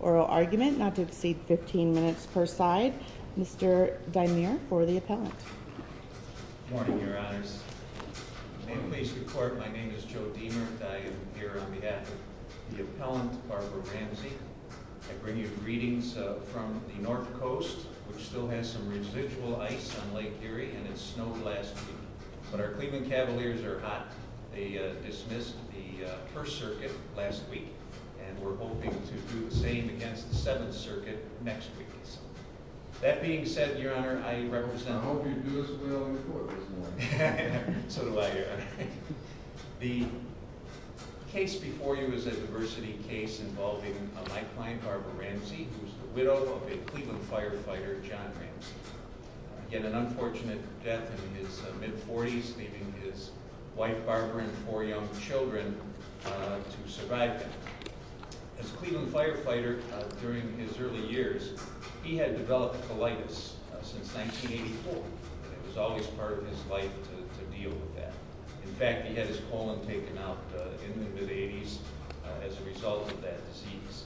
Oral argument not to exceed 15 minutes per side. Mr. Deimert for the appellant. Good morning your honors. May it please the court my name is Joe Deimert. I am here on behalf of the appellant Barbara Ramsey. I bring you greetings from the North Coast, which still has some residual ice on Lake Erie. And it snowed last week. But our Cleveland Cavaliers are hot. They dismissed the First Circuit last week and we're hoping to do the same against the Seventh Circuit next week or so. That being said, your honor, I represent. I hope you do this well in court this morning. So do I, your honor. The case before you is a diversity case involving a lifeline, Barbara Ramsey, who is the widow of a Cleveland firefighter, John Ramsey. Yet an unfortunate death in his mid-forties, leaving his wife Barbara and four young children to survive that. As a Cleveland firefighter during his early years, he had developed colitis since 1984. It was always part of his life to deal with that. In fact, he had his colon taken out in the mid-eighties as a result of that disease.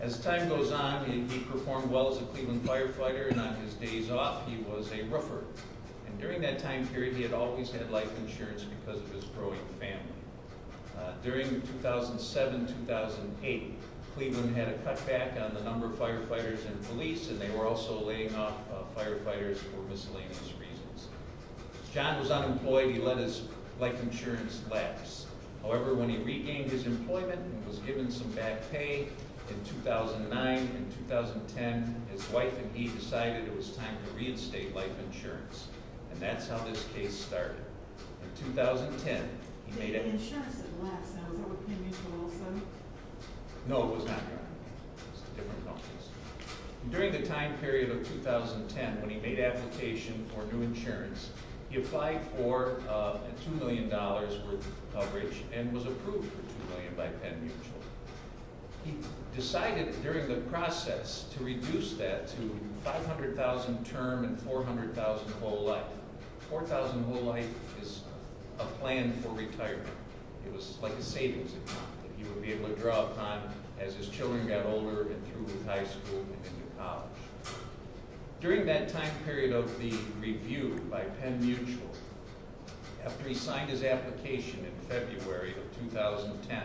As time goes on, he performed well as a Cleveland firefighter and on his days off he was a roofer. And during that time period, he had always had life insurance because of his growing family. During 2007-2008, Cleveland had a cutback on the number of firefighters and police and they were also laying off firefighters for miscellaneous reasons. John was unemployed. He let his life insurance lapse. However, when he regained his employment and was given some back pay in 2009 and 2010, his wife and he decided it was time to reinstate life insurance. And that's how this case started. In 2010, he made a... Did the insurance lapse? Was that with Penn Mutual also? No, it was not. It was a different company. During the time period of 2010, when he made an application for new insurance, he applied for a $2 million group coverage and was approved for $2 million by Penn Mutual. He decided during the process to reduce that to $500,000 term and $400,000 whole life. $400,000 whole life is a plan for retirement. It was like a savings account that he would be able to draw upon as his children got older and through with high school and into college. During that time period of the review by Penn Mutual, after he signed his application in February of 2010,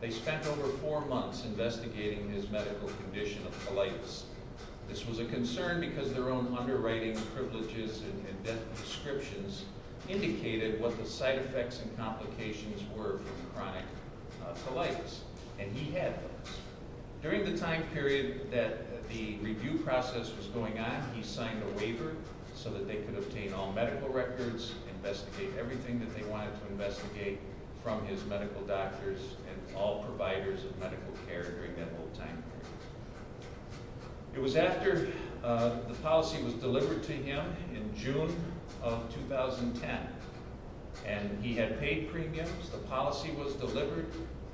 they spent over four months investigating his medical condition of colitis. This was a concern because their own underwriting privileges and death prescriptions indicated what the side effects and complications were from chronic colitis. And he had those. During the time period that the review process was going on, he signed a waiver so that they could obtain all medical records, investigate everything that they wanted to investigate from his medical doctors and all providers of medical care during that whole time period. It was after the policy was delivered to him in June of 2010 and he had paid premiums, the policy was delivered,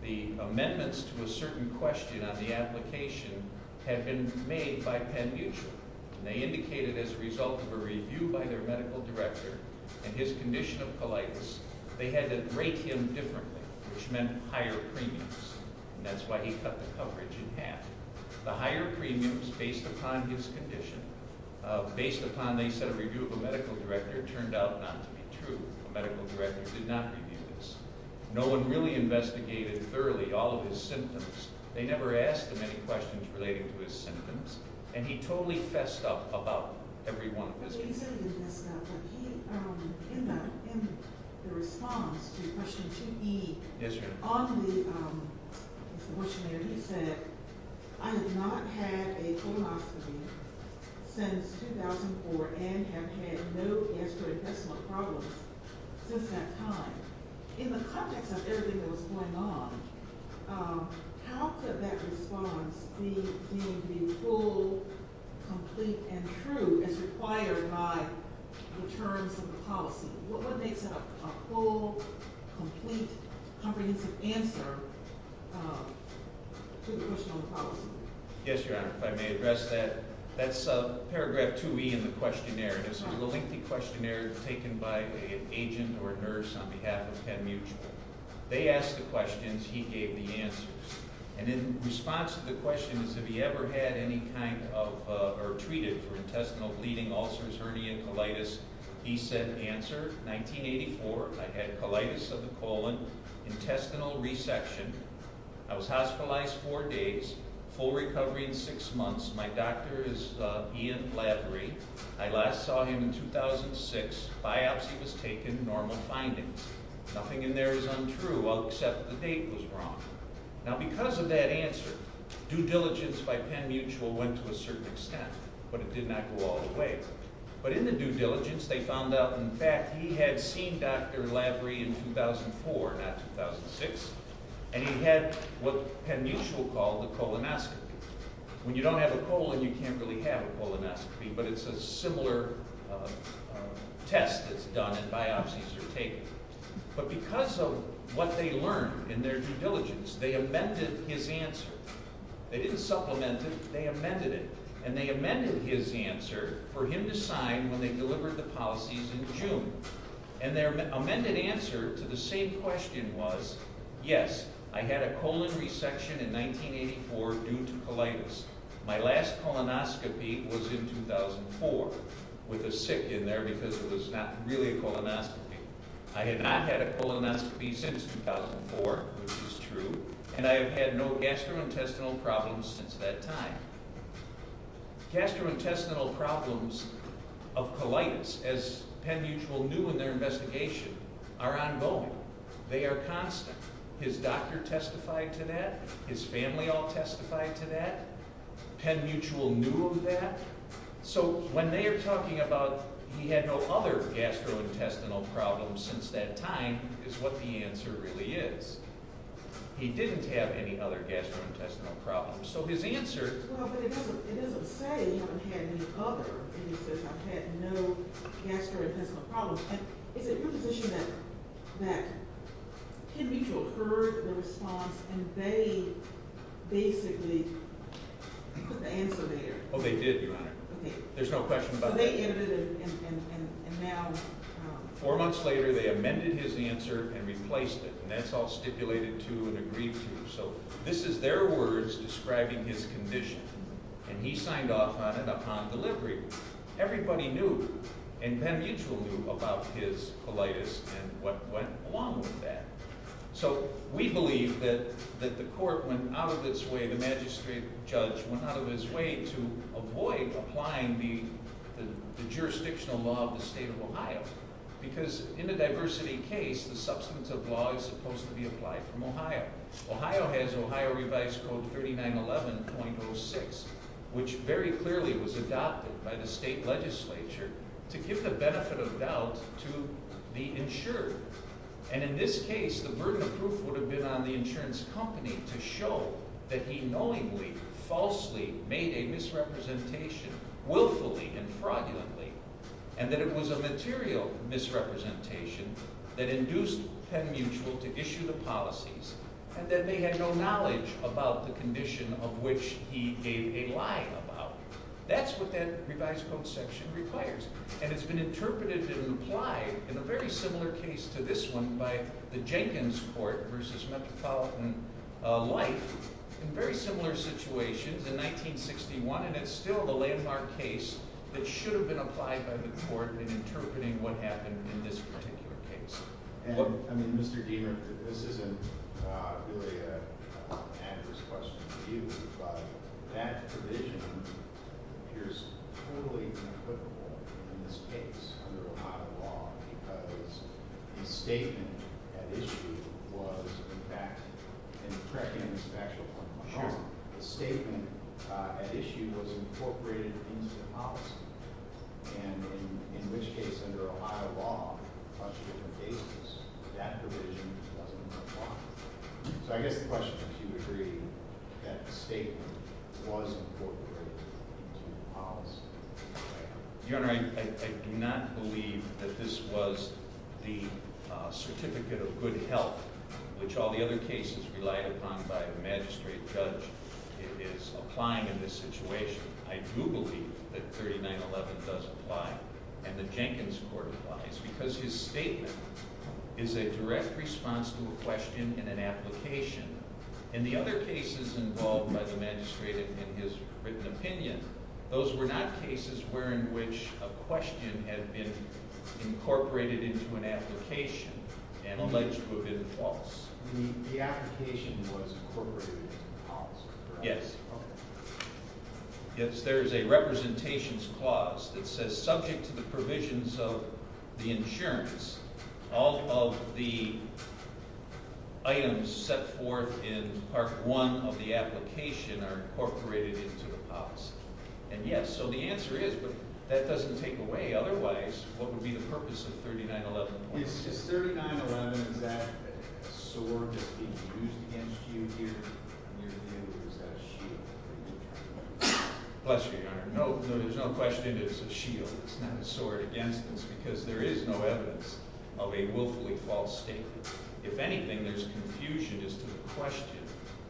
the amendments to a certain question on the application had been made by Penn Mutual. They indicated as a result of a review by their medical director and his condition of colitis, they had to rate him differently, which meant higher premiums. And that's why he cut the coverage in half. The higher premiums based upon his condition, based upon they said a review of a medical director, turned out not to be true. A medical director did not review this. No one really investigated thoroughly all of his symptoms. They never asked him any questions relating to his symptoms. And he totally fessed up about every one of his conditions. He said he fessed up, but he ended up in the response to question 2E. On the questionnaire he said, I have not had a colonoscopy since 2004 and have had no gastrointestinal problems since that time. In the context of everything that was going on, how could that response be full, complete, and true as required by the terms of the policy? What makes it a full, complete, comprehensive answer to the question on the policy? Yes, Your Honor, if I may address that. That's paragraph 2E in the questionnaire. This is a lengthy questionnaire taken by an agent or a nurse on behalf of Penn Mutual. They asked the questions, he gave the answers. And in response to the question, have you ever had any kind of, or treated for intestinal bleeding, ulcers, hernia, colitis, he said, answer, 1984, I had colitis of the colon, intestinal resection, I was hospitalized four days, full recovery in six months. My doctor is Ian Lavery. I last saw him in 2006. Biopsy was taken, normal findings. Nothing in there is untrue, except the date was wrong. Now because of that answer, due diligence by Penn Mutual went to a certain extent, but it did not go all the way. But in the due diligence they found out, in fact, he had seen Dr. Lavery in 2004, not 2006. And he had what Penn Mutual called the colonoscopy. When you don't have a colon, you can't really have a colonoscopy, but it's a similar test that's done and biopsies are taken. But because of what they learned in their due diligence, they amended his answer. They didn't supplement it, they amended it. And they amended his answer for him to sign when they delivered the policies in June. And their amended answer to the same question was, yes, I had a colon resection in 1984 due to colitis. My last colonoscopy was in 2004, with a sick in there because it was not really a colonoscopy. I have not had a colonoscopy since 2004, which is true, and I have had no gastrointestinal problems since that time. Gastrointestinal problems of colitis, as Penn Mutual knew in their investigation, are ongoing. They are constant. His doctor testified to that. His family all testified to that. Penn Mutual knew of that. So when they are talking about he had no other gastrointestinal problems since that time is what the answer really is. He didn't have any other gastrointestinal problems. But it doesn't say he didn't have any other gastrointestinal problems. Is it your position that Penn Mutual heard the response and they basically put the answer there? They did, Your Honor. There is no question about that. Four months later, they amended his answer and replaced it. And that's all stipulated to and agreed to. So this is their words describing his condition. And he signed off on it upon delivery. Everybody knew, and Penn Mutual knew about his colitis and what went along with that. So we believe that the court went out of its way, the magistrate judge went out of his way to avoid applying the jurisdictional law of the state of Ohio. Because in a diversity case, the substantive law is supposed to be applied from Ohio. Ohio has Ohio Revised Code 3911.06, which very clearly was adopted by the state legislature to give the benefit of doubt to the insured. And in this case, the burden of proof would have been on the insurance company to show that he knowingly, falsely made a misrepresentation willfully and fraudulently. And that it was a material misrepresentation that induced Penn Mutual to issue the policies. And that they had no knowledge about the condition of which he gave a lie about. That's what that revised code section requires. And it's been interpreted and applied in a very similar case to this one by the Jenkins Court versus Metropolitan Life in very similar situations in 1961. And it's still the landmark case that should have been applied by the court in interpreting what happened in this particular case. I mean, Mr. Deamer, this isn't really an adverse question to you. But that provision appears totally inequitable in this case under Ohio law. Because the statement at issue was, in fact – and correct me if I'm wrong – the statement at issue was incorporated into the policy. And in which case, under Ohio law, plus different cases, that provision doesn't apply. So I guess the question is, do you agree that the statement was incorporated into the policy? Your Honor, I do not believe that this was the certificate of good health which all the other cases relied upon by a magistrate judge is applying in this situation. I do believe that 3911 does apply and the Jenkins Court applies because his statement is a direct response to a question in an application. In the other cases involved by the magistrate in his written opinion, those were not cases where in which a question had been incorporated into an application and alleged to have been false. The application was incorporated into the policy, correct? Yes. Okay. Yes, there is a representations clause that says subject to the provisions of the insurance, all of the items set forth in Part 1 of the application are incorporated into the policy. And yes, so the answer is, but that doesn't take away otherwise what would be the purpose of 3911. Is 3911 exactly a sword that's being used against you here in your view? Is that a shield? Bless you, Your Honor. No, there's no question it is a shield. It's not a sword against us because there is no evidence of a willfully false statement. If anything, there's confusion as to the question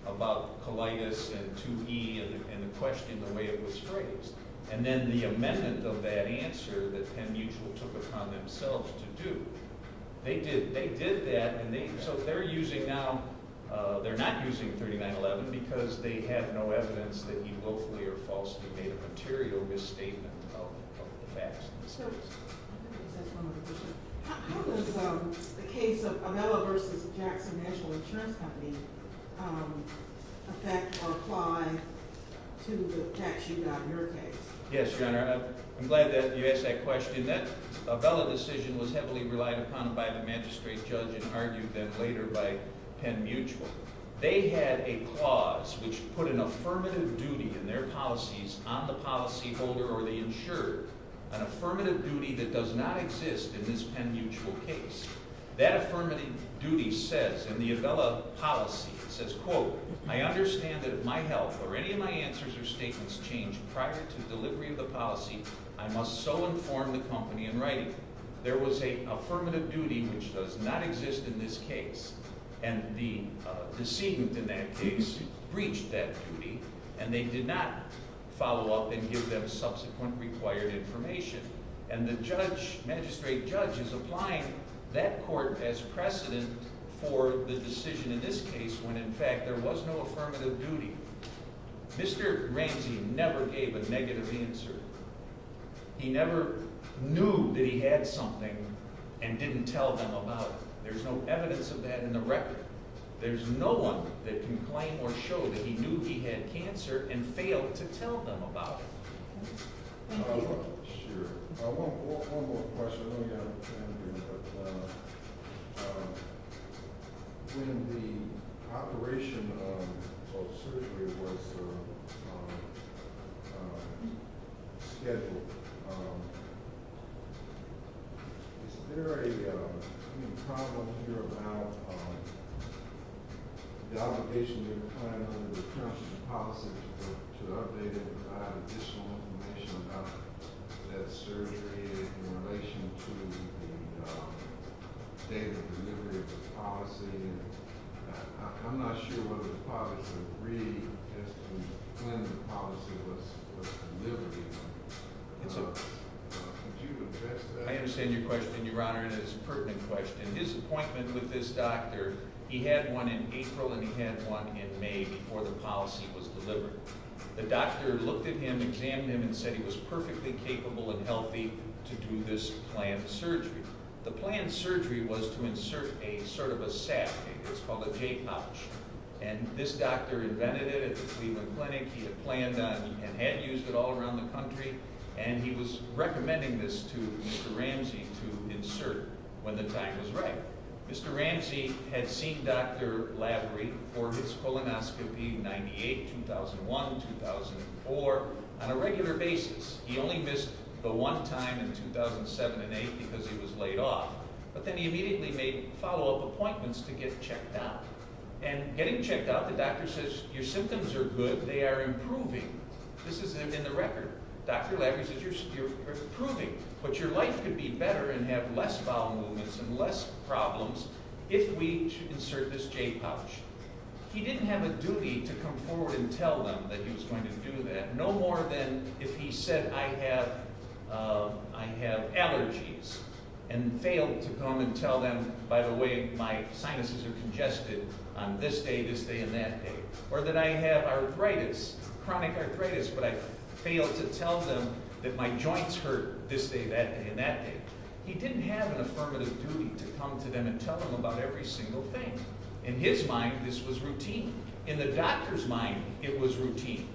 about colitis and 2E and the question the way it was phrased. And then the amendment of that answer that Penn Mutual took upon themselves to do. They did that and so they're using now, they're not using 3911 because they have no evidence that he willfully or falsely made a material misstatement of the facts. How does the case of Avella v. Jackson National Insurance Company affect or apply to the facts you got in your case? Yes, Your Honor. I'm glad that you asked that question. That Avella decision was heavily relied upon by the magistrate judge and argued then later by Penn Mutual. They had a clause which put an affirmative duty in their policies on the policyholder or they insured an affirmative duty that does not exist in this Penn Mutual case. That affirmative duty says in the Avella policy, it says, quote, I understand that if my health or any of my answers or statements change prior to delivery of the policy, I must so inform the company in writing. In fact, there was an affirmative duty which does not exist in this case and the decedent in that case breached that duty and they did not follow up and give them subsequent required information. And the judge, magistrate judge, is applying that court as precedent for the decision in this case when in fact there was no affirmative duty. Mr. Ramsey never gave a negative answer. He never knew that he had something and didn't tell them about it. There's no evidence of that in the record. There's no one that can claim or show that he knew he had cancer and failed to tell them about it. Sure. One more question. When the operation of surgery was scheduled, is there a problem here about the obligation to the county under the county's policy to update it without additional information about that surgery in relation to that surgery? I understand your question, Your Honor, and it's a pertinent question. His appointment with this doctor, he had one in April and he had one in May before the policy was delivered. The doctor looked at him, examined him, and said he was perfectly capable and healthy to do this planned surgery. The planned surgery was to insert a sort of a sac. It's called a J-pouch. And this doctor invented it at the Cleveland Clinic. He had planned on and had used it all around the country. And he was recommending this to Mr. Ramsey to insert when the time was right. Mr. Ramsey had seen Dr. Lavery for his colonoscopy in 98, 2001, 2004 on a regular basis. He only missed the one time in 2007 and 8 because he was laid off. But then he immediately made follow-up appointments to get checked out. And getting checked out, the doctor says your symptoms are good, they are improving. This is in the record. Dr. Lavery says you're improving. But your life could be better and have less bowel movements and less problems if we insert this J-pouch. He didn't have a duty to come forward and tell them that he was going to do that. No more than if he said I have allergies and failed to come and tell them, by the way, my sinuses are congested on this day, this day, and that day. Or that I have arthritis, chronic arthritis, but I failed to tell them that my joints hurt this day, that day, and that day. He didn't have an affirmative duty to come to them and tell them about every single thing. In his mind, this was routine. In the doctor's mind, it was routine.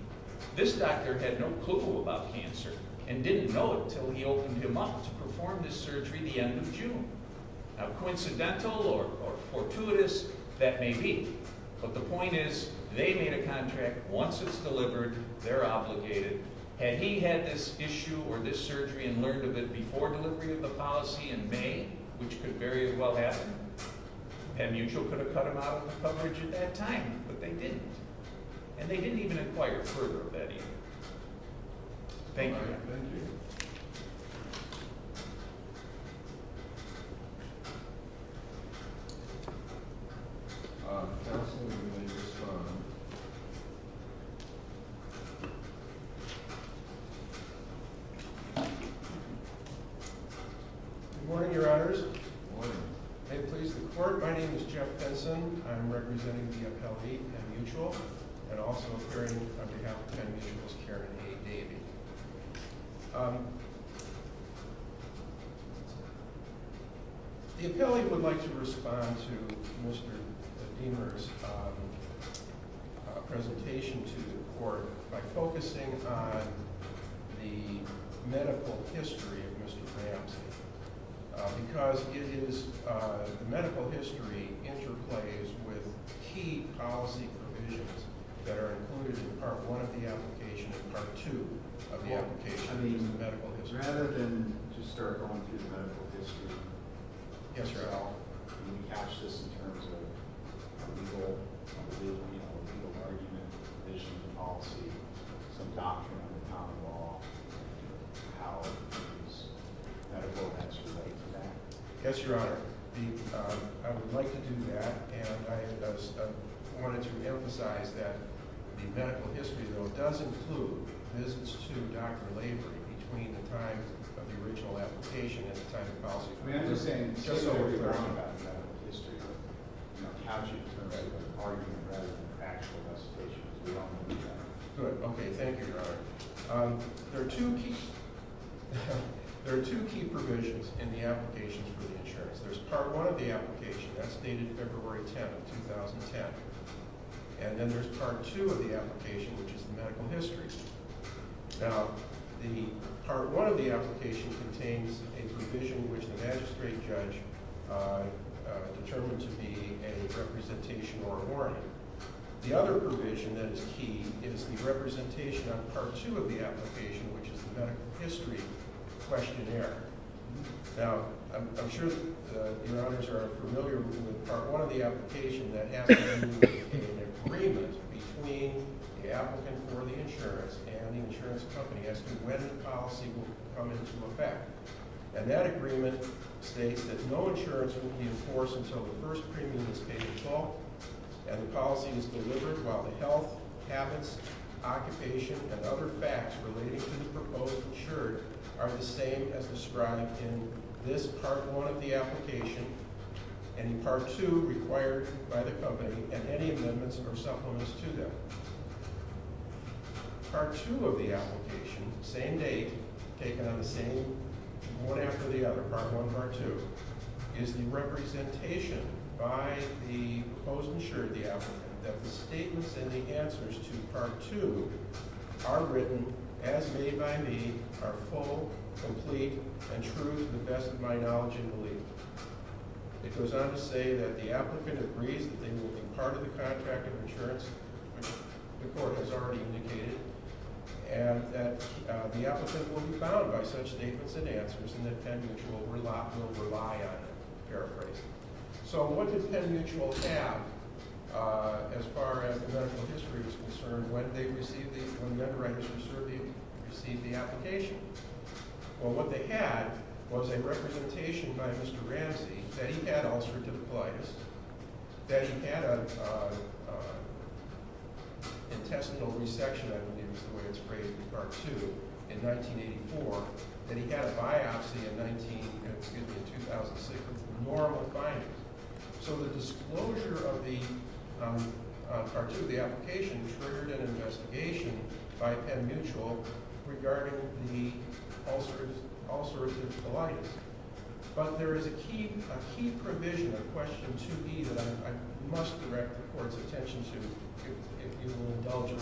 This doctor had no clue about cancer and didn't know it until he opened him up to perform this surgery the end of June. Now coincidental or fortuitous, that may be. But the point is they made a contract. Once it's delivered, they're obligated. Had he had this issue or this surgery and learned of it before delivery of the policy in May, which could very well happen, Penn Mutual could have cut him out of the coverage at that time, but they didn't. And they didn't even inquire further of that either. Thank you. All right, thank you. Counsel, you may respond. Good morning, Your Honors. Good morning. May it please the Court, my name is Jeff Henson. I'm representing the appellee, Penn Mutual, and also appearing on behalf of Penn Mutual is Karen A. Davie. The appellee would like to respond to Mr. Deamer's presentation to the Court by focusing on the medical history of Mr. Ramsey. Because the medical history interplays with key policy provisions that are included in Part 1 of the application and Part 2 of the application. I mean, rather than to start going through the medical history, can you catch this in terms of a legal argument, some doctrine on the top of all, and how these medical events relate to that? Yes, Your Honor. I would like to do that, and I wanted to emphasize that the medical history, though, does include visits to Dr. Lavery between the time of the original application and the time of the policy. I mean, I'm just saying, just so we're clear about the medical history, I would like to catch it in terms of an argument rather than an actual legislation, so we don't want to do that. Good. Okay, thank you, Your Honor. There are two key provisions in the application for the insurance. There's Part 1 of the application, that's dated February 10th, 2010, and then there's Part 2 of the application, which is the medical history. Now, Part 1 of the application contains a provision which the magistrate judge determined to be a representation or a warning. The other provision that is key is the representation of Part 2 of the application, which is the medical history questionnaire. Now, I'm sure that Your Honors are familiar with Part 1 of the application. That has to be an agreement between the applicant for the insurance and the insurance company as to when the policy will come into effect. And that agreement states that no insurance will be enforced until the first premium is paid in full and the policy is delivered while the health, habits, occupation, and other facts relating to the proposed insurer are the same as described in this Part 1 of the application, any Part 2 required by the company, and any amendments or supplements to them. Part 2 of the application, same date, taken on the same, one after the other, Part 1 and Part 2, is the representation by the proposed insurer, the applicant, that the statements and the answers to Part 2 are written, as made by me, are full, complete, and true to the best of my knowledge and belief. It goes on to say that the applicant agrees that they will be part of the contract of insurance, which the court has already indicated, and that the applicant will be bound by such statements and answers and that Penn Mutual will rely on them, paraphrasing. So what did Penn Mutual have, as far as the medical history is concerned, when they received the application? Well, what they had was a representation by Mr. Ramsey that he had ulcerative colitis, that he had an intestinal resection, I believe is the way it's phrased in Part 2, in 1984, that he had a biopsy in 2006 of normal findings. So the disclosure of Part 2 of the application triggered an investigation by Penn Mutual regarding the ulcerative colitis. But there is a key provision of Question 2B that I must direct the Court's attention to, if you will indulge me,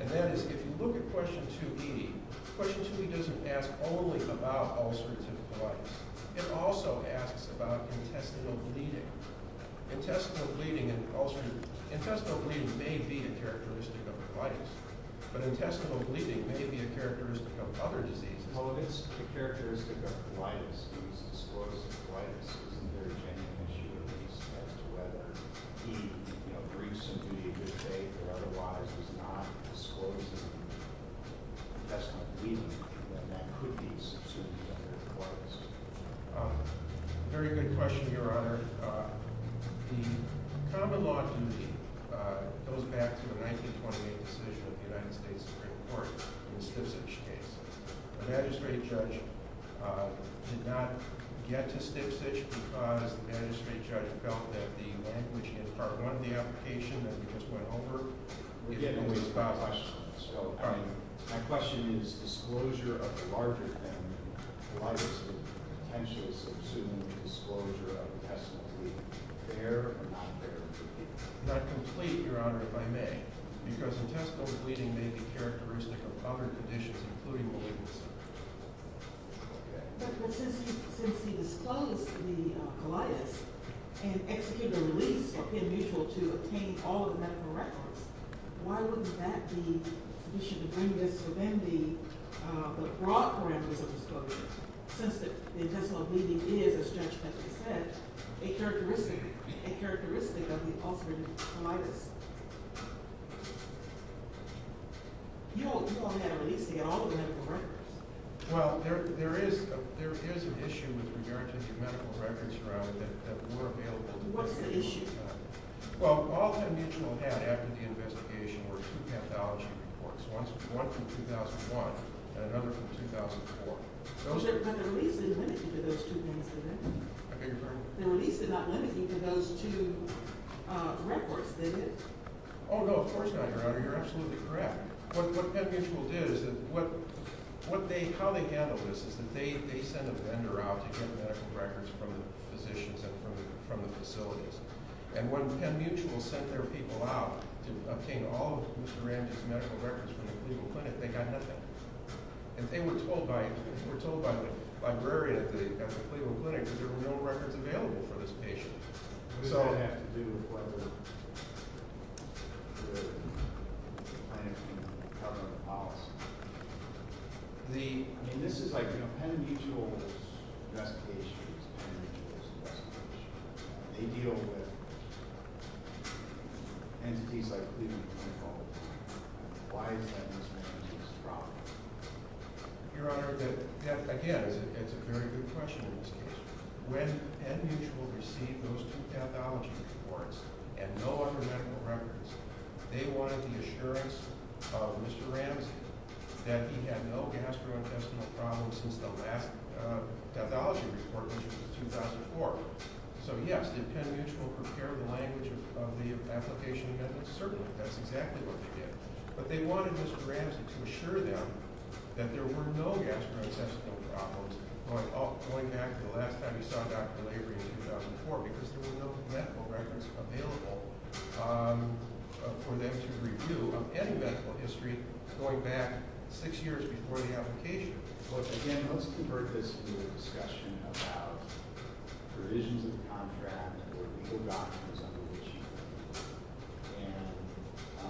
and that is, if you look at Question 2B, Question 2B doesn't ask only about ulcerative colitis. It also asks about intestinal bleeding. Intestinal bleeding may be a characteristic of colitis, but intestinal bleeding may be a characteristic of other diseases. So if it's a characteristic of colitis, he was disclosing colitis. Isn't there a genuine issue, at least, as to whether he breached some duty of his faith, or otherwise was not disclosing intestinal bleeding, and that could be substantive ulcerative colitis? Very good question, Your Honor. The common law duty goes back to the 1928 decision of the United States Supreme Court in the Stipzig case. The magistrate judge did not get to Stipzig because the magistrate judge felt that the language in Part 1 of the application that we just went over would get in the way of the question. So, I mean, my question is, disclosure of a larger than ulcerative colitis is potentially substantive disclosure of intestinal bleeding. Fair or not fair? Not complete, Your Honor, if I may. Because intestinal bleeding may be a characteristic of other conditions, including malignancy. But since he disclosed the colitis and executed a release of pin mutual to obtain all of the medical records, why wouldn't that be an issue to bring this? So then the broad parameters of disclosure, since the intestinal bleeding is, as Judge Pentley said, a characteristic of the ulcerative colitis. You only had a release to get all of the medical records. Well, there is an issue with regard to the medical records, Your Honor, that were available. What's the issue? Well, all that mutual had after the investigation were two pathology reports. One from 2001 and another from 2004. But the release didn't limit you to those two things, did it? I beg your pardon? The release did not limit you to those two records, did it? Oh, no, of course not, Your Honor. You're absolutely correct. What pin mutual did is that they sent a vendor out to get medical records from the physicians and from the facilities. And when pin mutual sent their people out to obtain all of Mr. Ramsey's medical records from the Cleveland Clinic, they got nothing. And they were told by the librarian at the Cleveland Clinic that there were no records available for this patient. What does that have to do with whether the clinic can cover the policy? I mean, this is like, you know, pin mutual's investigation is pin mutual's investigation. They deal with entities like Cleveland Clinic all the time. Why is that Mr. Ramsey's problem? Your Honor, again, it's a very good question in this case. When pin mutual received those two pathology reports and no other medical records, they wanted the assurance of Mr. Ramsey that he had no gastrointestinal problems since the last pathology report, which was in 2004. So, yes, did pin mutual prepare the language of the application amendments? Certainly. That's exactly what they did. But they wanted Mr. Ramsey to assure them that there were no gastrointestinal problems going back to the last time he saw Dr. Lavery in 2004 because there were no medical records available for them to review of any medical history going back six years before the application. Well, again, let's convert this to a discussion about provisions of the contract or legal documents under which, and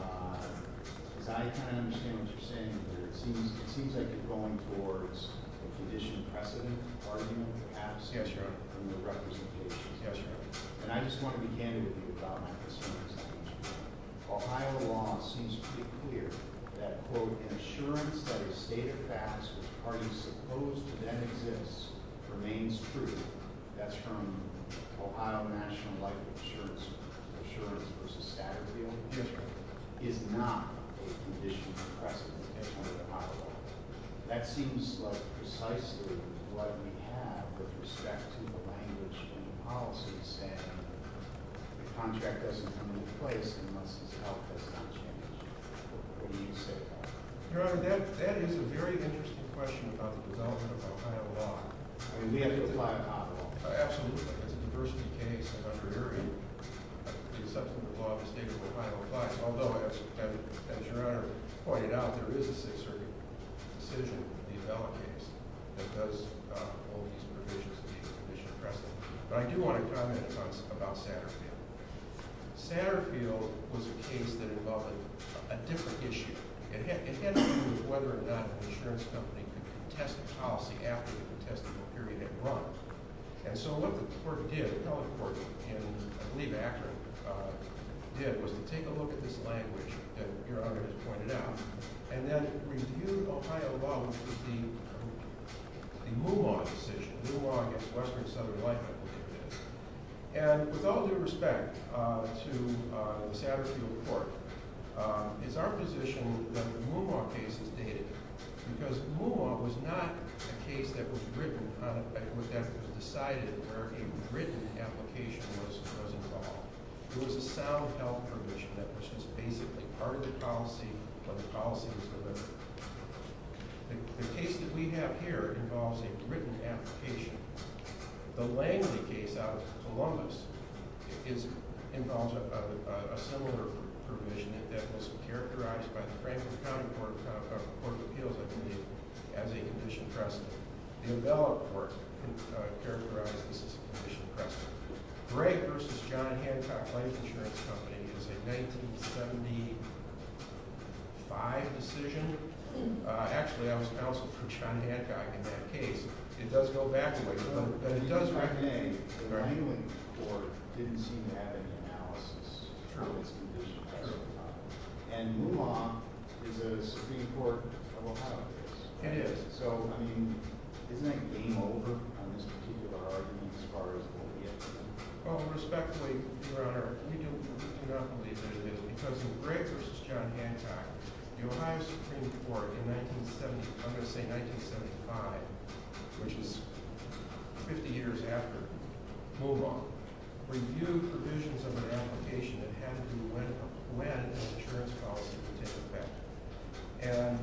as I kind of understand what you're saying, it seems like you're going towards a condition precedent argument perhaps? Yes, Your Honor. From your representation. Yes, Your Honor. And I just want to be candid with you about my concerns. Ohio law seems to be clear that, quote, an assurance that is stated fast, which parties supposed to then exist, remains true. That's from Ohio National Life Insurance. Assurance versus statutory only insurance is not a condition precedent under the power law. That seems like precisely what we have with respect to the language in the policy saying the contract doesn't come into place unless its health has not changed. What do you say to that? Your Honor, that is a very interesting question about the development of Ohio law. I mean, we have to apply a model. Absolutely. It's a diversity case. The substantive law of the state of Ohio applies. Although, as Your Honor pointed out, there is a Sixth Circuit decision, the Avella case, that does hold these provisions to be a condition precedent. But I do want to comment about Satterfield. Satterfield was a case that involved a different issue. It had to do with whether or not an insurance company could contest a policy after the contestable period had run. And so what the court did, the appellate court, and I believe Akron did, was to take a look at this language that Your Honor has pointed out, and then review Ohio law with the Moomaw decision, the Moomaw against Western and Southern Life. And with all due respect to the Satterfield court, it's our position that the Moomaw case is dated. Because Moomaw was not a case that was decided where a written application was involved. It was a sound health provision that was just basically part of the policy when the policy was delivered. The case that we have here involves a written application. The Langley case out of Columbus involves a similar provision that was characterized by the Franklin County Court of Appeals as a condition precedent. The Avella court characterized this as a condition precedent. Drake v. John Hancock Life Insurance Company is a 1975 decision. Actually, I was counseled for John Hancock in that case. It does go back a ways, but it does recognize that our New England court didn't seem to have any analysis to its condition precedent. And Moomaw is a Supreme Court of Ohio case. It is. So, I mean, isn't that game over on this particular argument as far as what we have to do? Well, respectfully, Your Honor, we do not believe there is. Because in Drake v. John Hancock, the Ohio Supreme Court in 1970, I'm going to say 1975, which is 50 years after Moomaw, reviewed provisions of an application that had to do with when an insurance policy would take effect. And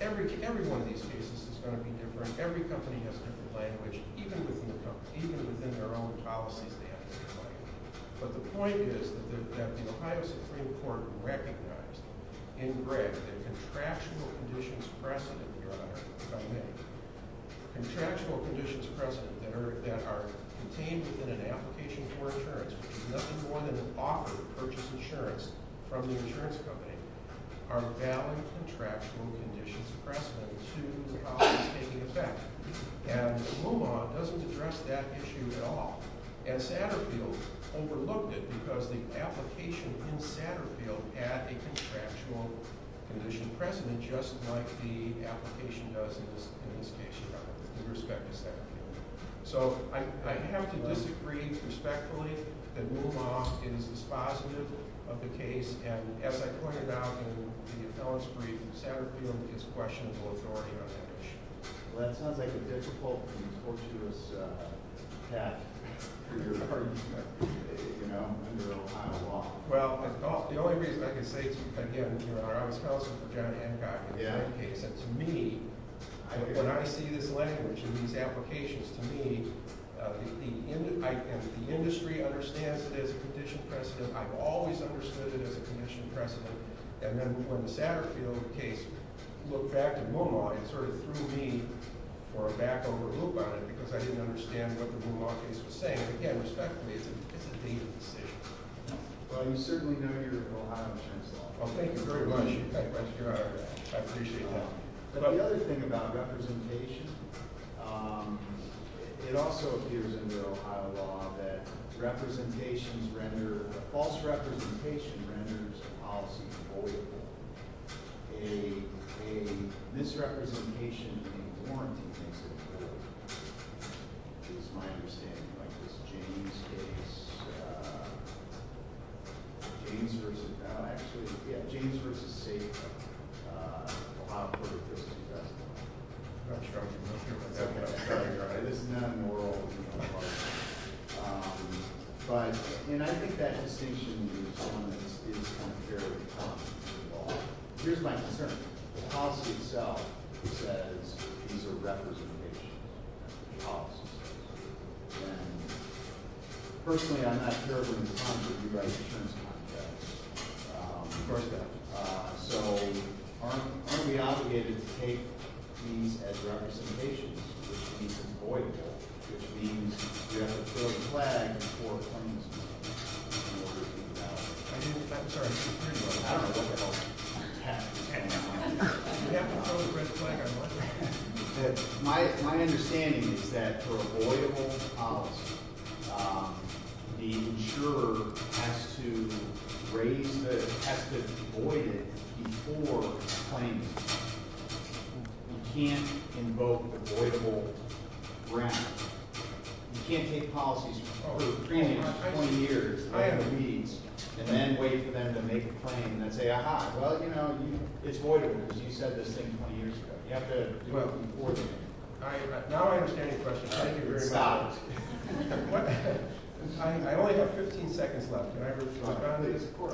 every one of these cases is going to be different. Every company has a different language, even within their own policies they have to comply with. But the point is that the Ohio Supreme Court recognized in Greg that contractual conditions precedent, Your Honor, are made. Contractual conditions precedent that are contained within an application for insurance, which is nothing more than an offer to purchase insurance from the insurance company, are valid contractual conditions precedent to the policies taking effect. And Moomaw doesn't address that issue at all. And Satterfield overlooked it because the application in Satterfield had a contractual condition precedent, just like the application does in this case, Your Honor, in respect to Satterfield. So I have to disagree respectfully that Moomaw is dispositive of the case. And as I pointed out in the appellant's brief, Satterfield is questionable authority on that issue. Well, that sounds like a difficult and fortuitous path for your argument, you know, under Ohio law. Well, the only reason I can say, again, you know, I was counseling for John Hancock in my case. And to me, when I see this language in these applications, to me, if the industry understands it as a conditional precedent, I've always understood it as a conditional precedent. And then when the Satterfield case looked back at Moomaw, it sort of threw me for a back-over-the-loop on it because I didn't understand what the Moomaw case was saying. But, again, respectfully, it's a legal decision. Well, you certainly know you're in Ohio insurance law. Well, thank you very much, Your Honor. I appreciate that. But the other thing about representation, it also appears in your Ohio law that representations render a false representation renders a policy avoidable. A misrepresentation in a warranty makes it avoidable, is my understanding. Like this James case, James versus, actually, yeah, James versus Safe, a lot of fortuitous investment. I'm struggling with it. That's okay. This is not a moral question. But, you know, I think that distinction is one that is contrary to common law. Here's my concern. The policy itself says it's a representation policy. And, personally, I'm not sure it would be contrary to the U.S. insurance context. Of course not. So aren't we obligated to take these as representations, which means it's avoidable, which means you have to throw a flag before a claim is made in order to invalidate it? I'm sorry. I don't know what else to add. You have to throw a red flag on what? My understanding is that for avoidable policy, the insurer has to raise the, has to avoid it before a claim is made. You can't invoke avoidable ground. You can't take policies for 20 years and then wait for them to make a claim and then say, aha, well, you know, it's avoidable because you said this thing 20 years ago. You have to avoid it. Now I understand your question. Thank you very much. Stop. What? I only have 15 seconds left. That's what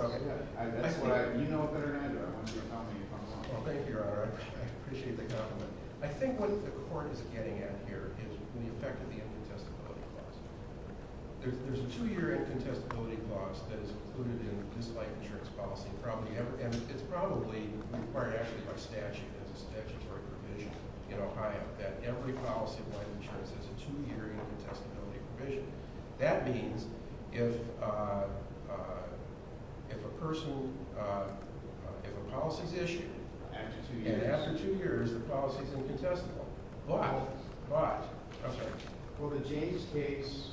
I, you know better than I do. I want you to help me if I'm wrong. Well, thank you, Your Honor. I appreciate the compliment. I think what the court is getting at here is the effect of the incontestability clause. There's a two-year incontestability clause that is included in this life insurance policy. And it's probably required actually by statute as a statutory provision in Ohio that every policy of life insurance has a two-year incontestability provision. That means if a person – if a policy is issued and after two years the policy is incontestable. But. But. I'm sorry. For the James case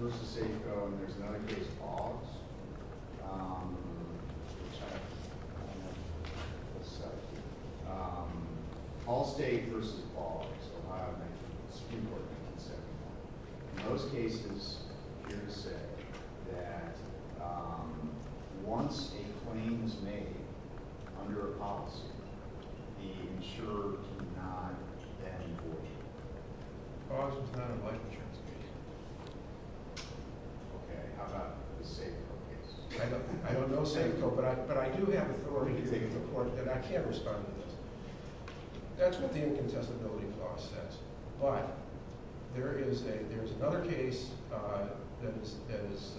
versus Safeco and there's another case, Boggs. I'm sorry. Let's stop here. Allstate versus Boggs. Ohio 1971. In those cases, you're going to say that once a claim is made under a policy, the insurer cannot then avoid it. Boggs is not a life insurance case. Okay. How about the Safeco case? I don't know Safeco, but I do have authority in the court that I can't respond to this. That's what the incontestability clause says. But there is a – there's another case that is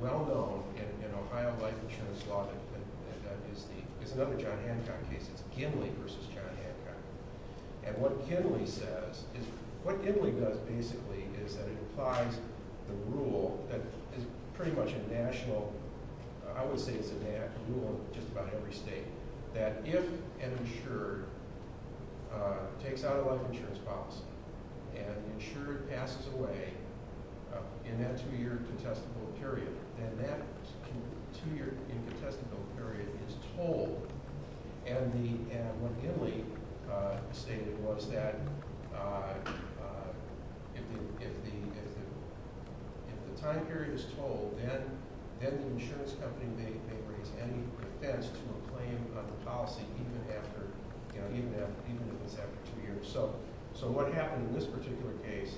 well-known in Ohio life insurance law that is the – is another John Hancock case. It's Ginley versus John Hancock. And what Ginley says is – what Ginley does basically is that it applies the rule that is pretty much a national – I would say it's a national rule in just about every state. That if an insurer takes out a life insurance policy and the insurer passes away in that two-year incontestable period, then that two-year incontestable period is told. And what Ginley stated was that if the time period is told, then the insurance company may raise any offense to a claim under policy even after – even if it's after two years. So what happened in this particular case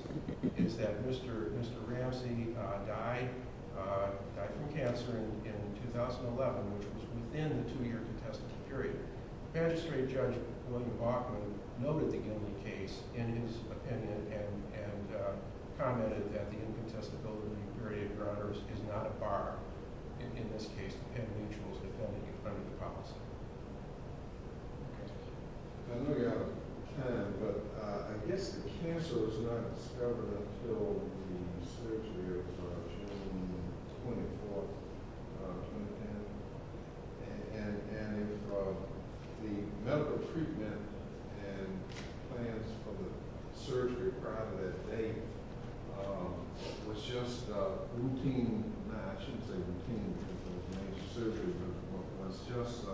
is that Mr. Ramsey died from cancer in 2011, which was within the two-year contestable period. Magistrate Judge William Bauchman noted the Ginley case in his opinion and commented that the incontestability period is not a bar in this case. I know you're out of time, but I guess the cancer was not discovered until the surgery of June 24, 2010. And if the medical treatment and plans for the surgery prior to that date was just routine – I shouldn't say routine because it was major surgery – but it was just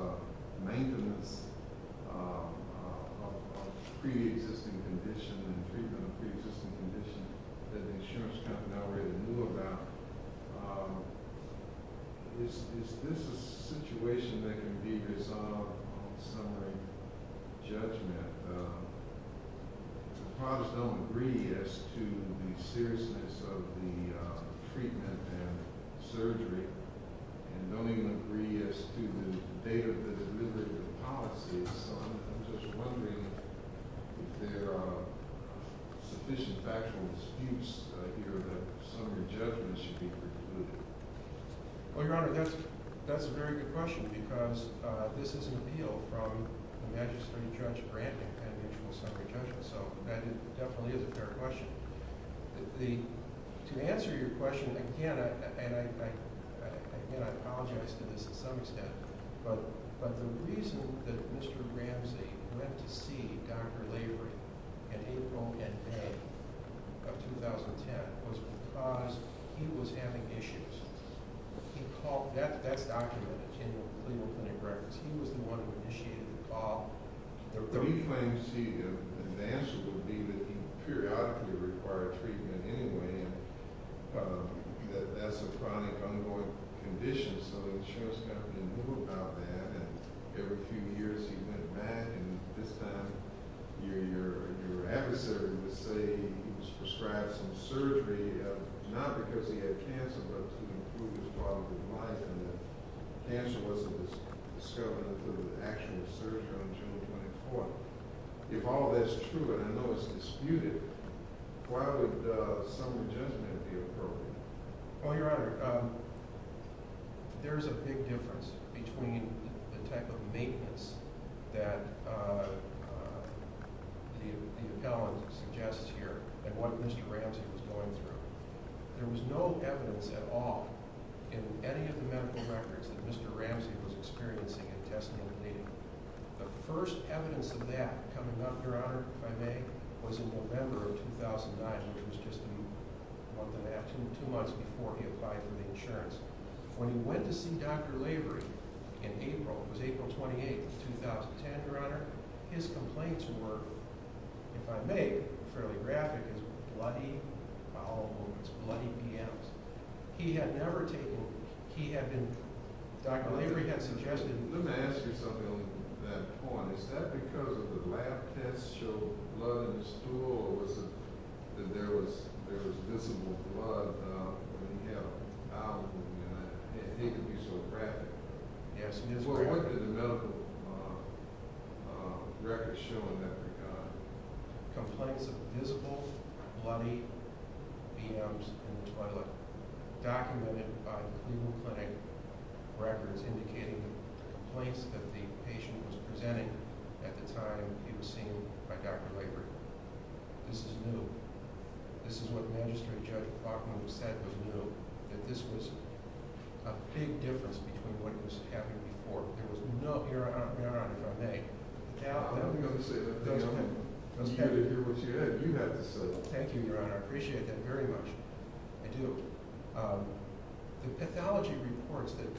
maintenance of pre-existing conditions and treatment of pre-existing conditions that the insurance company already knew about, is this a situation that can be resolved on summary judgment? Well, Your Honor, that's a very good question because this is an appeal from the Magistrate Judge Branton and mutual summary judgment, so that definitely is a fair question. To answer your question, again, I apologize to this to some extent, but the reason that Mr. Ramsey went to see Dr. Lavery in April and May of 2010 was because he was having issues. That's documented in the Cleveland Clinic records. He was the one who initiated the call. The claims he announced would be that he periodically required treatment anyway and that that's a chronic, ongoing condition, so the insurance company knew about that. And every few years he went back, and this time your adversary would say he was prescribed some surgery, not because he had cancer, but to improve his quality of life and that cancer wasn't discovered until the actual surgery on June 24. If all that's true, and I know it's disputed, why would summary judgment be appropriate? Well, Your Honor, there's a big difference between the type of maintenance that the appellant suggests here and what Mr. Ramsey was going through. There was no evidence at all in any of the medical records that Mr. Ramsey was experiencing intestinal bleeding. The first evidence of that coming up, Your Honor, if I may, was in November of 2009, which was just a month and a half, two months before he applied for the insurance. When he went to see Dr. Lavery in April, it was April 28, 2010, Your Honor, his complaints were, if I may, fairly graphic as bloody follow-ups, bloody PMs. He had never taken, he had been, Dr. Lavery had suggested... Let me ask you something on that point. Is that because the lab tests showed blood in his stool, or was it that there was visible blood when he had a bowel movement? I didn't think it would be so graphic. Yes, it is graphic. Well, what did the medical records show in that regard? Complaints of visible bloody PMs in the toilet documented by Cleveland Clinic records indicating the complaints that the patient was presenting at the time he was seen by Dr. Lavery. This is new. This is what Magistrate Judge Bachman said was new. That this was a big difference between what was happening before. There was no, Your Honor, if I may... It was good to hear what you had to say. Thank you, Your Honor. I appreciate that very much. I do. The pathology reports that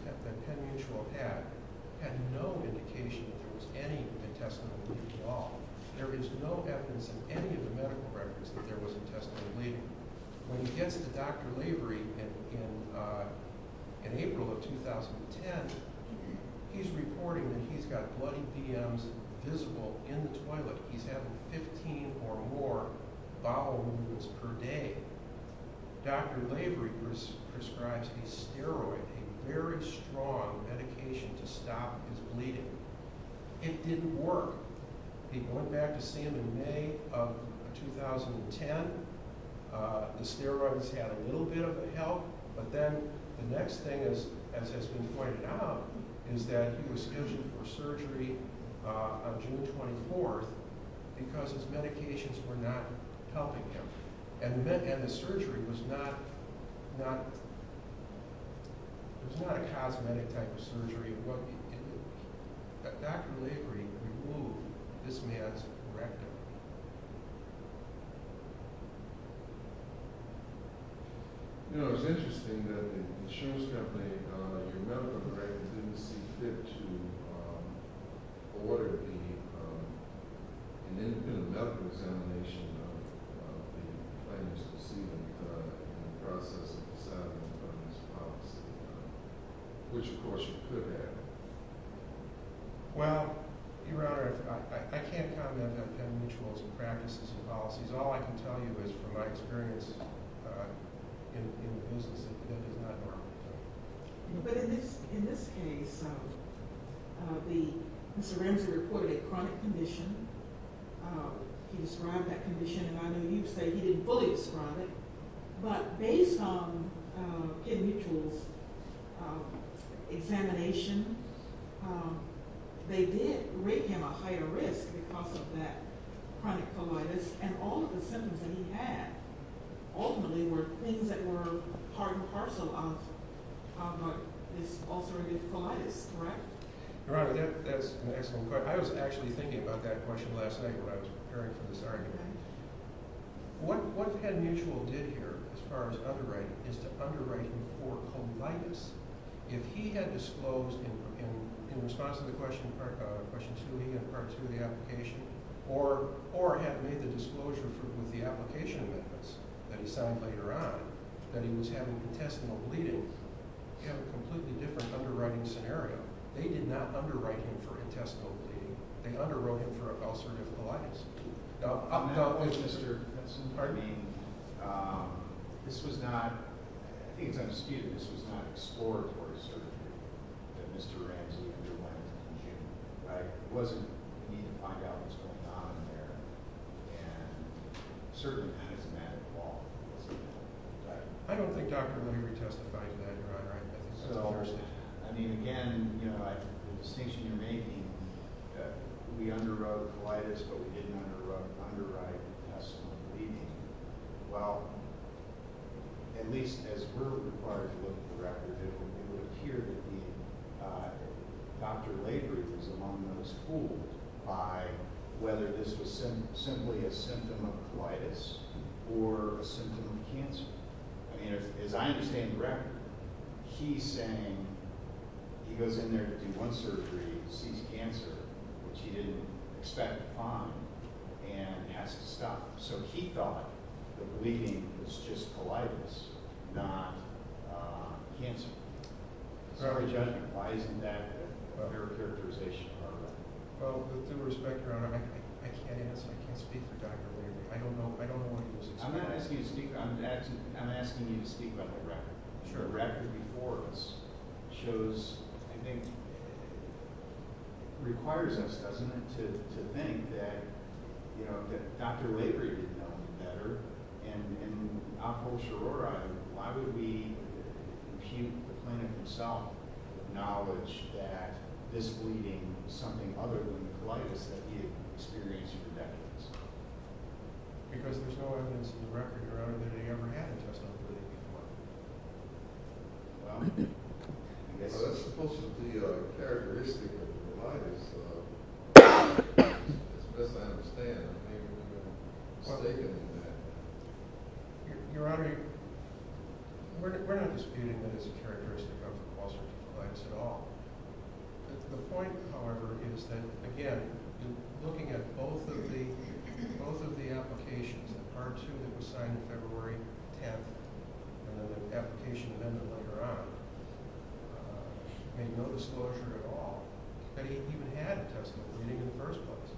Penn Mutual had had no indication that there was any intestinal bleeding at all. There is no evidence in any of the medical records that there was intestinal bleeding. When he gets to Dr. Lavery in April of 2010, he's reporting that he's got bloody PMs visible in the toilet. He's having 15 or more bowel movements per day. Dr. Lavery prescribes a steroid, a very strong medication to stop his bleeding. It didn't work. He went back to see him in May of 2010. The steroids had a little bit of a help. But then the next thing, as has been pointed out, is that he was scheduled for surgery on June 24th because his medications were not helping him. And the surgery was not a cosmetic type of surgery. Dr. Lavery removed this man's corrective. You know, it's interesting that the insurance company, your medical records, didn't see fit to order the medical examination of the plaintiffs to see them in the process of deciding on this policy, which, of course, you could have. Well, Your Honor, I can't comment on Penn Mutual's practices and policies. All I can tell you is from my experience in the business, it did not work. But in this case, Mr. Ramsey reported a chronic condition. He described that condition, and I know you'd say he didn't fully describe it. But based on Penn Mutual's examination, they did rate him a higher risk because of that chronic colitis. And all of the symptoms that he had ultimately were things that were part and parcel of this ulcerative colitis, correct? Your Honor, that's an excellent question. I was actually thinking about that question last night when I was preparing for this argument. What Penn Mutual did here, as far as underwriting, is to underwrite him for colitis. If he had disclosed in response to the question, Part 2 of the application, or had made the disclosure with the application methods that he signed later on, that he was having intestinal bleeding, he had a completely different underwriting scenario. They did not underwrite him for intestinal bleeding. They underwrote him for ulcerative colitis. Now, Mr. Benson, this was not explored for a surgery that Mr. Ramsey underwent. There wasn't a need to find out what was going on there. And certainly, that is a matter of quality. I don't think Dr. Mooney retestified that, Your Honor. I mean, again, the distinction you're making that we underwrote colitis but we didn't underwrite intestinal bleeding, well, at least as far as we're looking at the record, it would appear that Dr. Lavery was among those fooled by whether this was simply a symptom of colitis or a symptom of cancer. I mean, as I understand the record, he's saying he goes in there to do one surgery and sees cancer, which he didn't expect to find, and has to stop. So he thought that the bleeding was just colitis, not cancer. So what are we judging? Why isn't that a better characterization? Well, with due respect, Your Honor, I can't ask, I can't speak for Dr. Lavery. I don't know why he was excluded. I'm not asking you to speak on that. I'm asking you to speak on the record. The record before us shows, I think, requires us, doesn't it, to think that, you know, that Dr. Lavery did no better, and Apol Shororai, why would we impute the clinic himself with knowledge that this bleeding was something other than colitis that he had experienced for decades? Because there's no evidence in the record, Your Honor, that he ever had intestinal bleeding before. Well, that's supposed to be a characteristic of colitis. As best I understand, he was mistaken in that. Your Honor, we're not disputing that it's a characteristic of colitis at all. The point, however, is that, again, looking at both of the applications, the Part 2 that was signed February 10th, and then the application amendment later on, made no disclosure at all that he even had intestinal bleeding in the first place.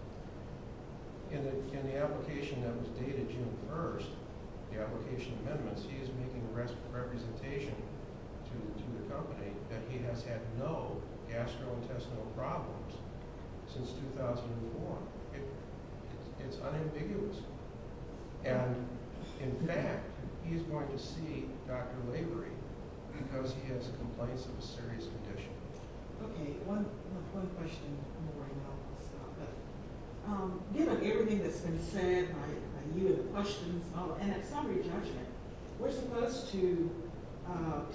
In the application that was dated June 1st, the application amendments, he is making a representation to the company that he has had no gastrointestinal problems since 2004. It's unambiguous. And, in fact, he's going to see Dr. Lavery because he has complaints of a serious condition. Okay, one question more, and then I'll stop. Given everything that's been said by you and the questions, and at summary judgment, we're supposed to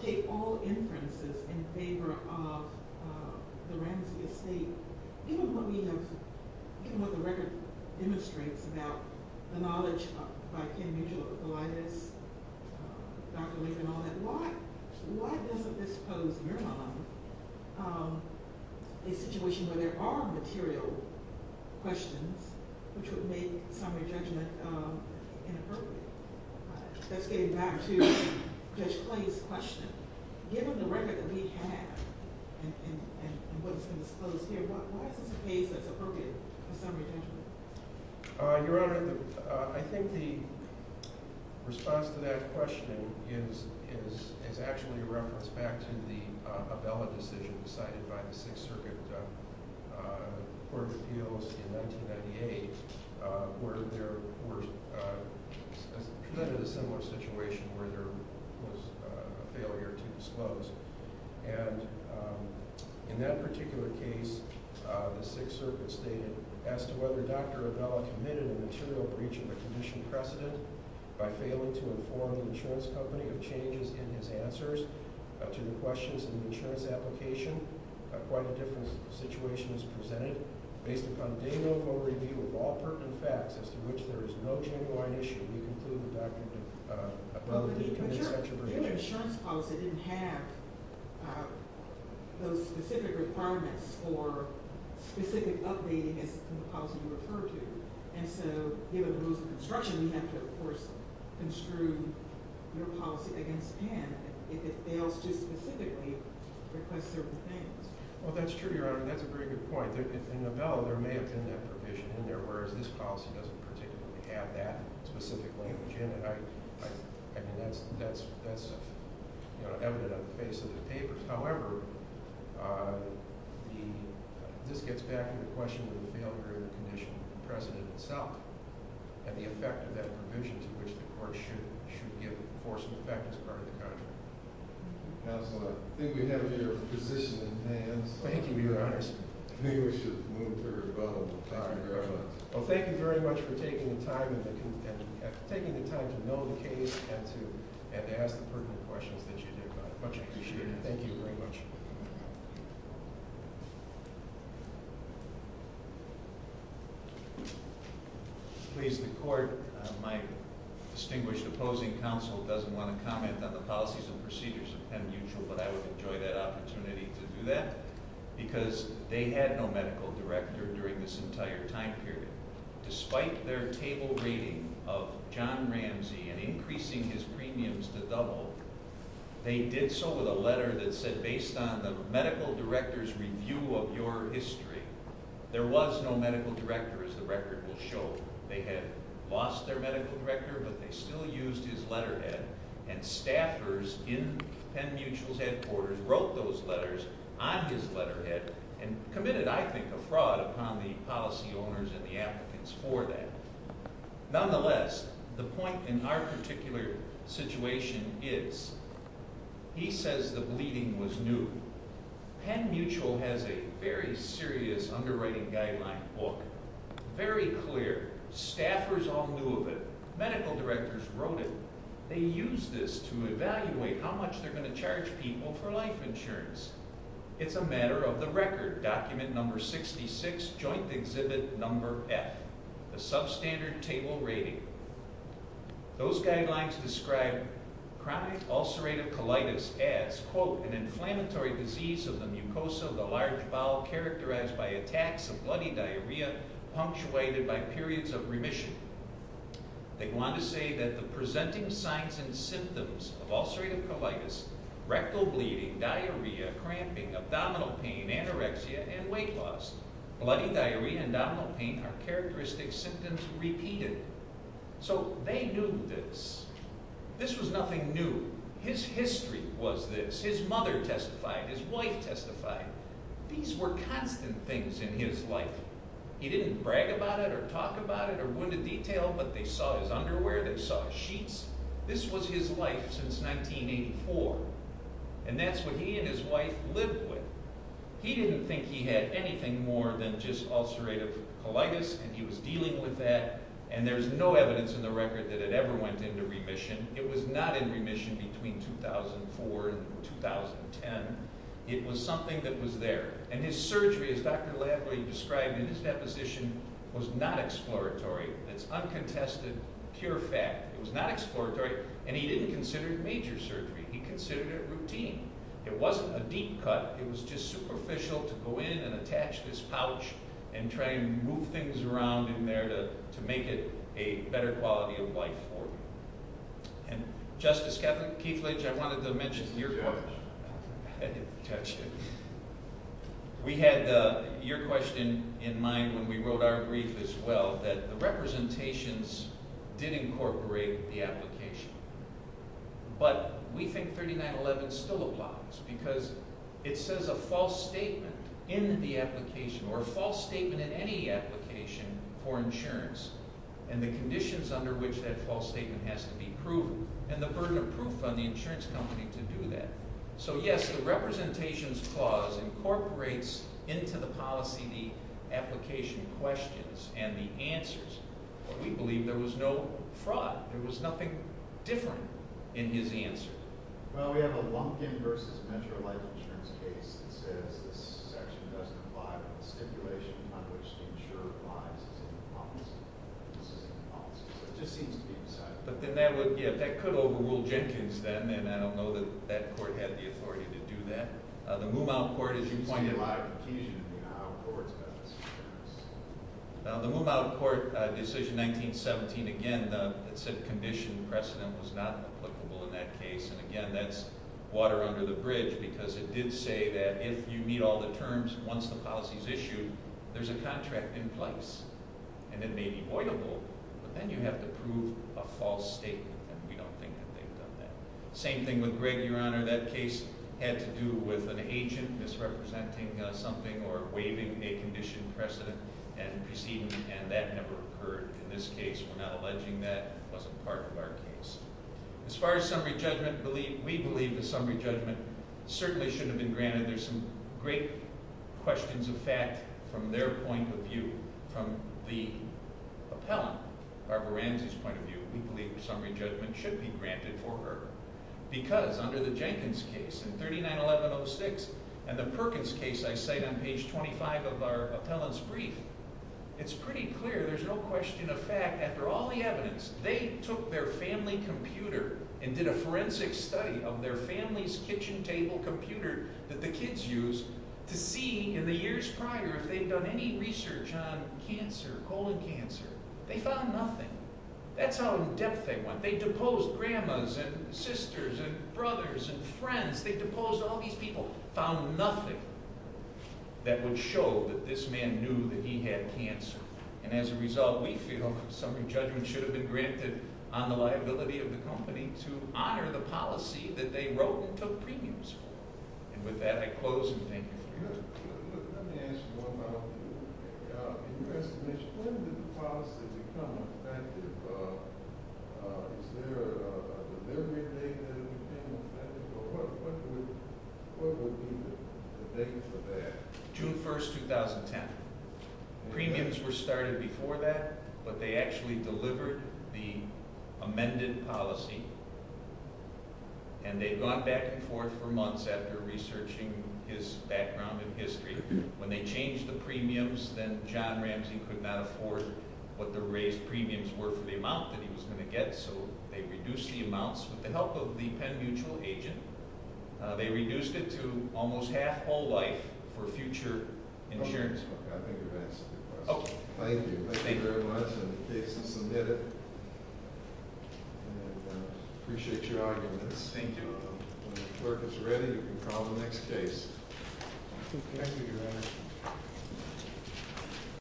take all inferences in favor of the Ramsey estate. Even what the record demonstrates about the knowledge by Ken Mutual of colitis, Dr. Lavery, and all that, why doesn't this pose, in your mind, a situation where there are material questions which would make summary judgment inappropriate? That's getting back to Judge Clay's question. Given the record that we have and what's been disclosed here, why is this a case that's appropriate for summary judgment? Your Honor, I think the response to that question is actually a reference back to the Abella decision decided by the Sixth Circuit Court of Appeals in 1998, where there was a similar situation where there was a failure to disclose. And in that particular case, the Sixth Circuit stated, as to whether Dr. Abella committed a material breach of a condition precedent by failing to inform the insurance company of changes in his answers to the questions in the insurance application, quite a different situation is presented. Based upon day-no-go review of all pertinent facts as to which there is no genuine issue, we conclude that Dr. Abella did commit such a breach. But your insurance policy didn't have those specific requirements for specific updating as the policy referred to. And so, given the rules of construction, we have to, of course, construe your policy against him if it fails to specifically request certain things. Well, that's true, Your Honor, and that's a very good point. In Abella, there may have been that provision in there, whereas this policy doesn't particularly have that specific language in it. I mean, that's evident on the face of the papers. However, this gets back to the question of the failure of the condition precedent itself and the effect of that provision to which the court should give force and effect as part of the contract. Counselor, I think we have your position in hands. Thank you, Your Honors. I think we should move to rebuttal. Thank you very much. Thank you for taking the time to know the case and to ask the pertinent questions that you did about it. Much appreciated. Thank you very much. Please, the court, my distinguished opposing counsel, doesn't want to comment on the policies and procedures of Penn Mutual, but I would enjoy that opportunity to do that because they had no medical director during this entire time period. Despite their table rating of John Ramsey and increasing his premiums to double, they did so with a letter that said, based on the medical director's review of your history, there was no medical director, as the record will show. They had lost their medical director, but they still used his letterhead, and staffers in Penn Mutual's headquarters wrote those letters on his letterhead and committed, I think, a fraud upon the policy owners and the applicants for that. Nonetheless, the point in our particular situation is, he says the bleeding was new. Penn Mutual has a very serious underwriting guideline book. Very clear. Staffers all knew of it. Medical directors wrote it. They used this to evaluate how much they're going to charge people for life insurance. It's a matter of the record, document number 66, joint exhibit number F, the substandard table rating. Those guidelines describe chronic ulcerative colitis as, quote, an inflammatory disease of the mucosa of the large bowel characterized by attacks of bloody diarrhea punctuated by periods of remission. They want to say that the presenting signs and symptoms of ulcerative colitis, rectal bleeding, diarrhea, cramping, abdominal pain, anorexia, and weight loss, bloody diarrhea and abdominal pain are characteristic symptoms repeated. So they knew this. This was nothing new. His history was this. His mother testified. His wife testified. These were constant things in his life. He didn't brag about it or talk about it or go into detail, but they saw his underwear, they saw his sheets. This was his life since 1984, and that's what he and his wife lived with. He didn't think he had anything more than just ulcerative colitis, and he was dealing with that, and there's no evidence in the record that it ever went into remission. It was not in remission between 2004 and 2010. It was something that was there. And his surgery, as Dr. Lathway described in his deposition, was not exploratory. It's uncontested, pure fact. It was not exploratory, and he didn't consider it major surgery. He considered it routine. It wasn't a deep cut. It was just superficial to go in and attach this pouch and try and move things around in there to make it a better quality of life for him. And Justice Keeflage, I wanted to mention your point. We had your question in mind when we wrote our brief as well, that the representations did incorporate the application. But we think 3911 still applies because it says a false statement in the application or a false statement in any application for insurance and the conditions under which that false statement has to be proven and the burden of proof on the insurance company to do that. So, yes, the representations clause incorporates into the policy the application questions and the answers. But we believe there was no fraud. There was nothing different in his answer. Well, we have a Lumpkin v. Metro Life Insurance case that says this section doesn't apply but the stipulation under which the insurer applies is in the policy. So it just seems to be decided. But then that could overrule Jenkins then, and I don't know that that court had the authority to do that. The Moomaw Court, as you pointed out... The Moomaw Court decision, 1917, again, it said condition precedent was not applicable in that case, and again, that's water under the bridge because it did say that if you meet all the terms once the policy is issued, there's a contract in place, and it may be voidable, but then you have to prove a false statement, and we don't think that they've done that. Same thing with Gregg, Your Honor. That case had to do with an agent misrepresenting something or waiving a condition precedent and proceeding, and that never occurred in this case. We're not alleging that wasn't part of our case. As far as summary judgment, we believe the summary judgment certainly shouldn't have been granted. There's some great questions of fact from their point of view. From the appellant, Barbara Ramsey's point of view, we believe summary judgment should be granted for her because under the Jenkins case in 39-1106 and the Perkins case I cite on page 25 of our appellant's brief, it's pretty clear there's no question of fact. After all the evidence, they took their family computer and did a forensic study of their family's kitchen table computer that the kids used to see in the years prior if they'd done any research on cancer, colon cancer. They found nothing. That's how in-depth they went. They deposed grandmas and sisters and brothers and friends. They deposed all these people. Found nothing that would show that this man knew that he had cancer. And as a result, we feel summary judgment should have been granted on the liability of the company to honor the policy that they wrote and took premiums for. And with that, I close and thank you. Let me ask you one more thing. When did the policy become effective? Is there a delivery date that it became effective? Or what would be the date for that? June 1, 2010. Premiums were started before that, but they actually delivered the amended policy, and they'd gone back and forth for months after researching his background and history. When they changed the premiums, then John Ramsey could not afford what the raised premiums were for the amount that he was going to get, so they reduced the amounts with the help of the Penn Mutual agent. They reduced it to almost half whole life for future insurance. Okay, I think I've answered your question. Thank you. Thank you very much, and in case you submit it. I appreciate your arguments. Thank you. When the clerk is ready, you can call the next case. Thank you, Your Honor.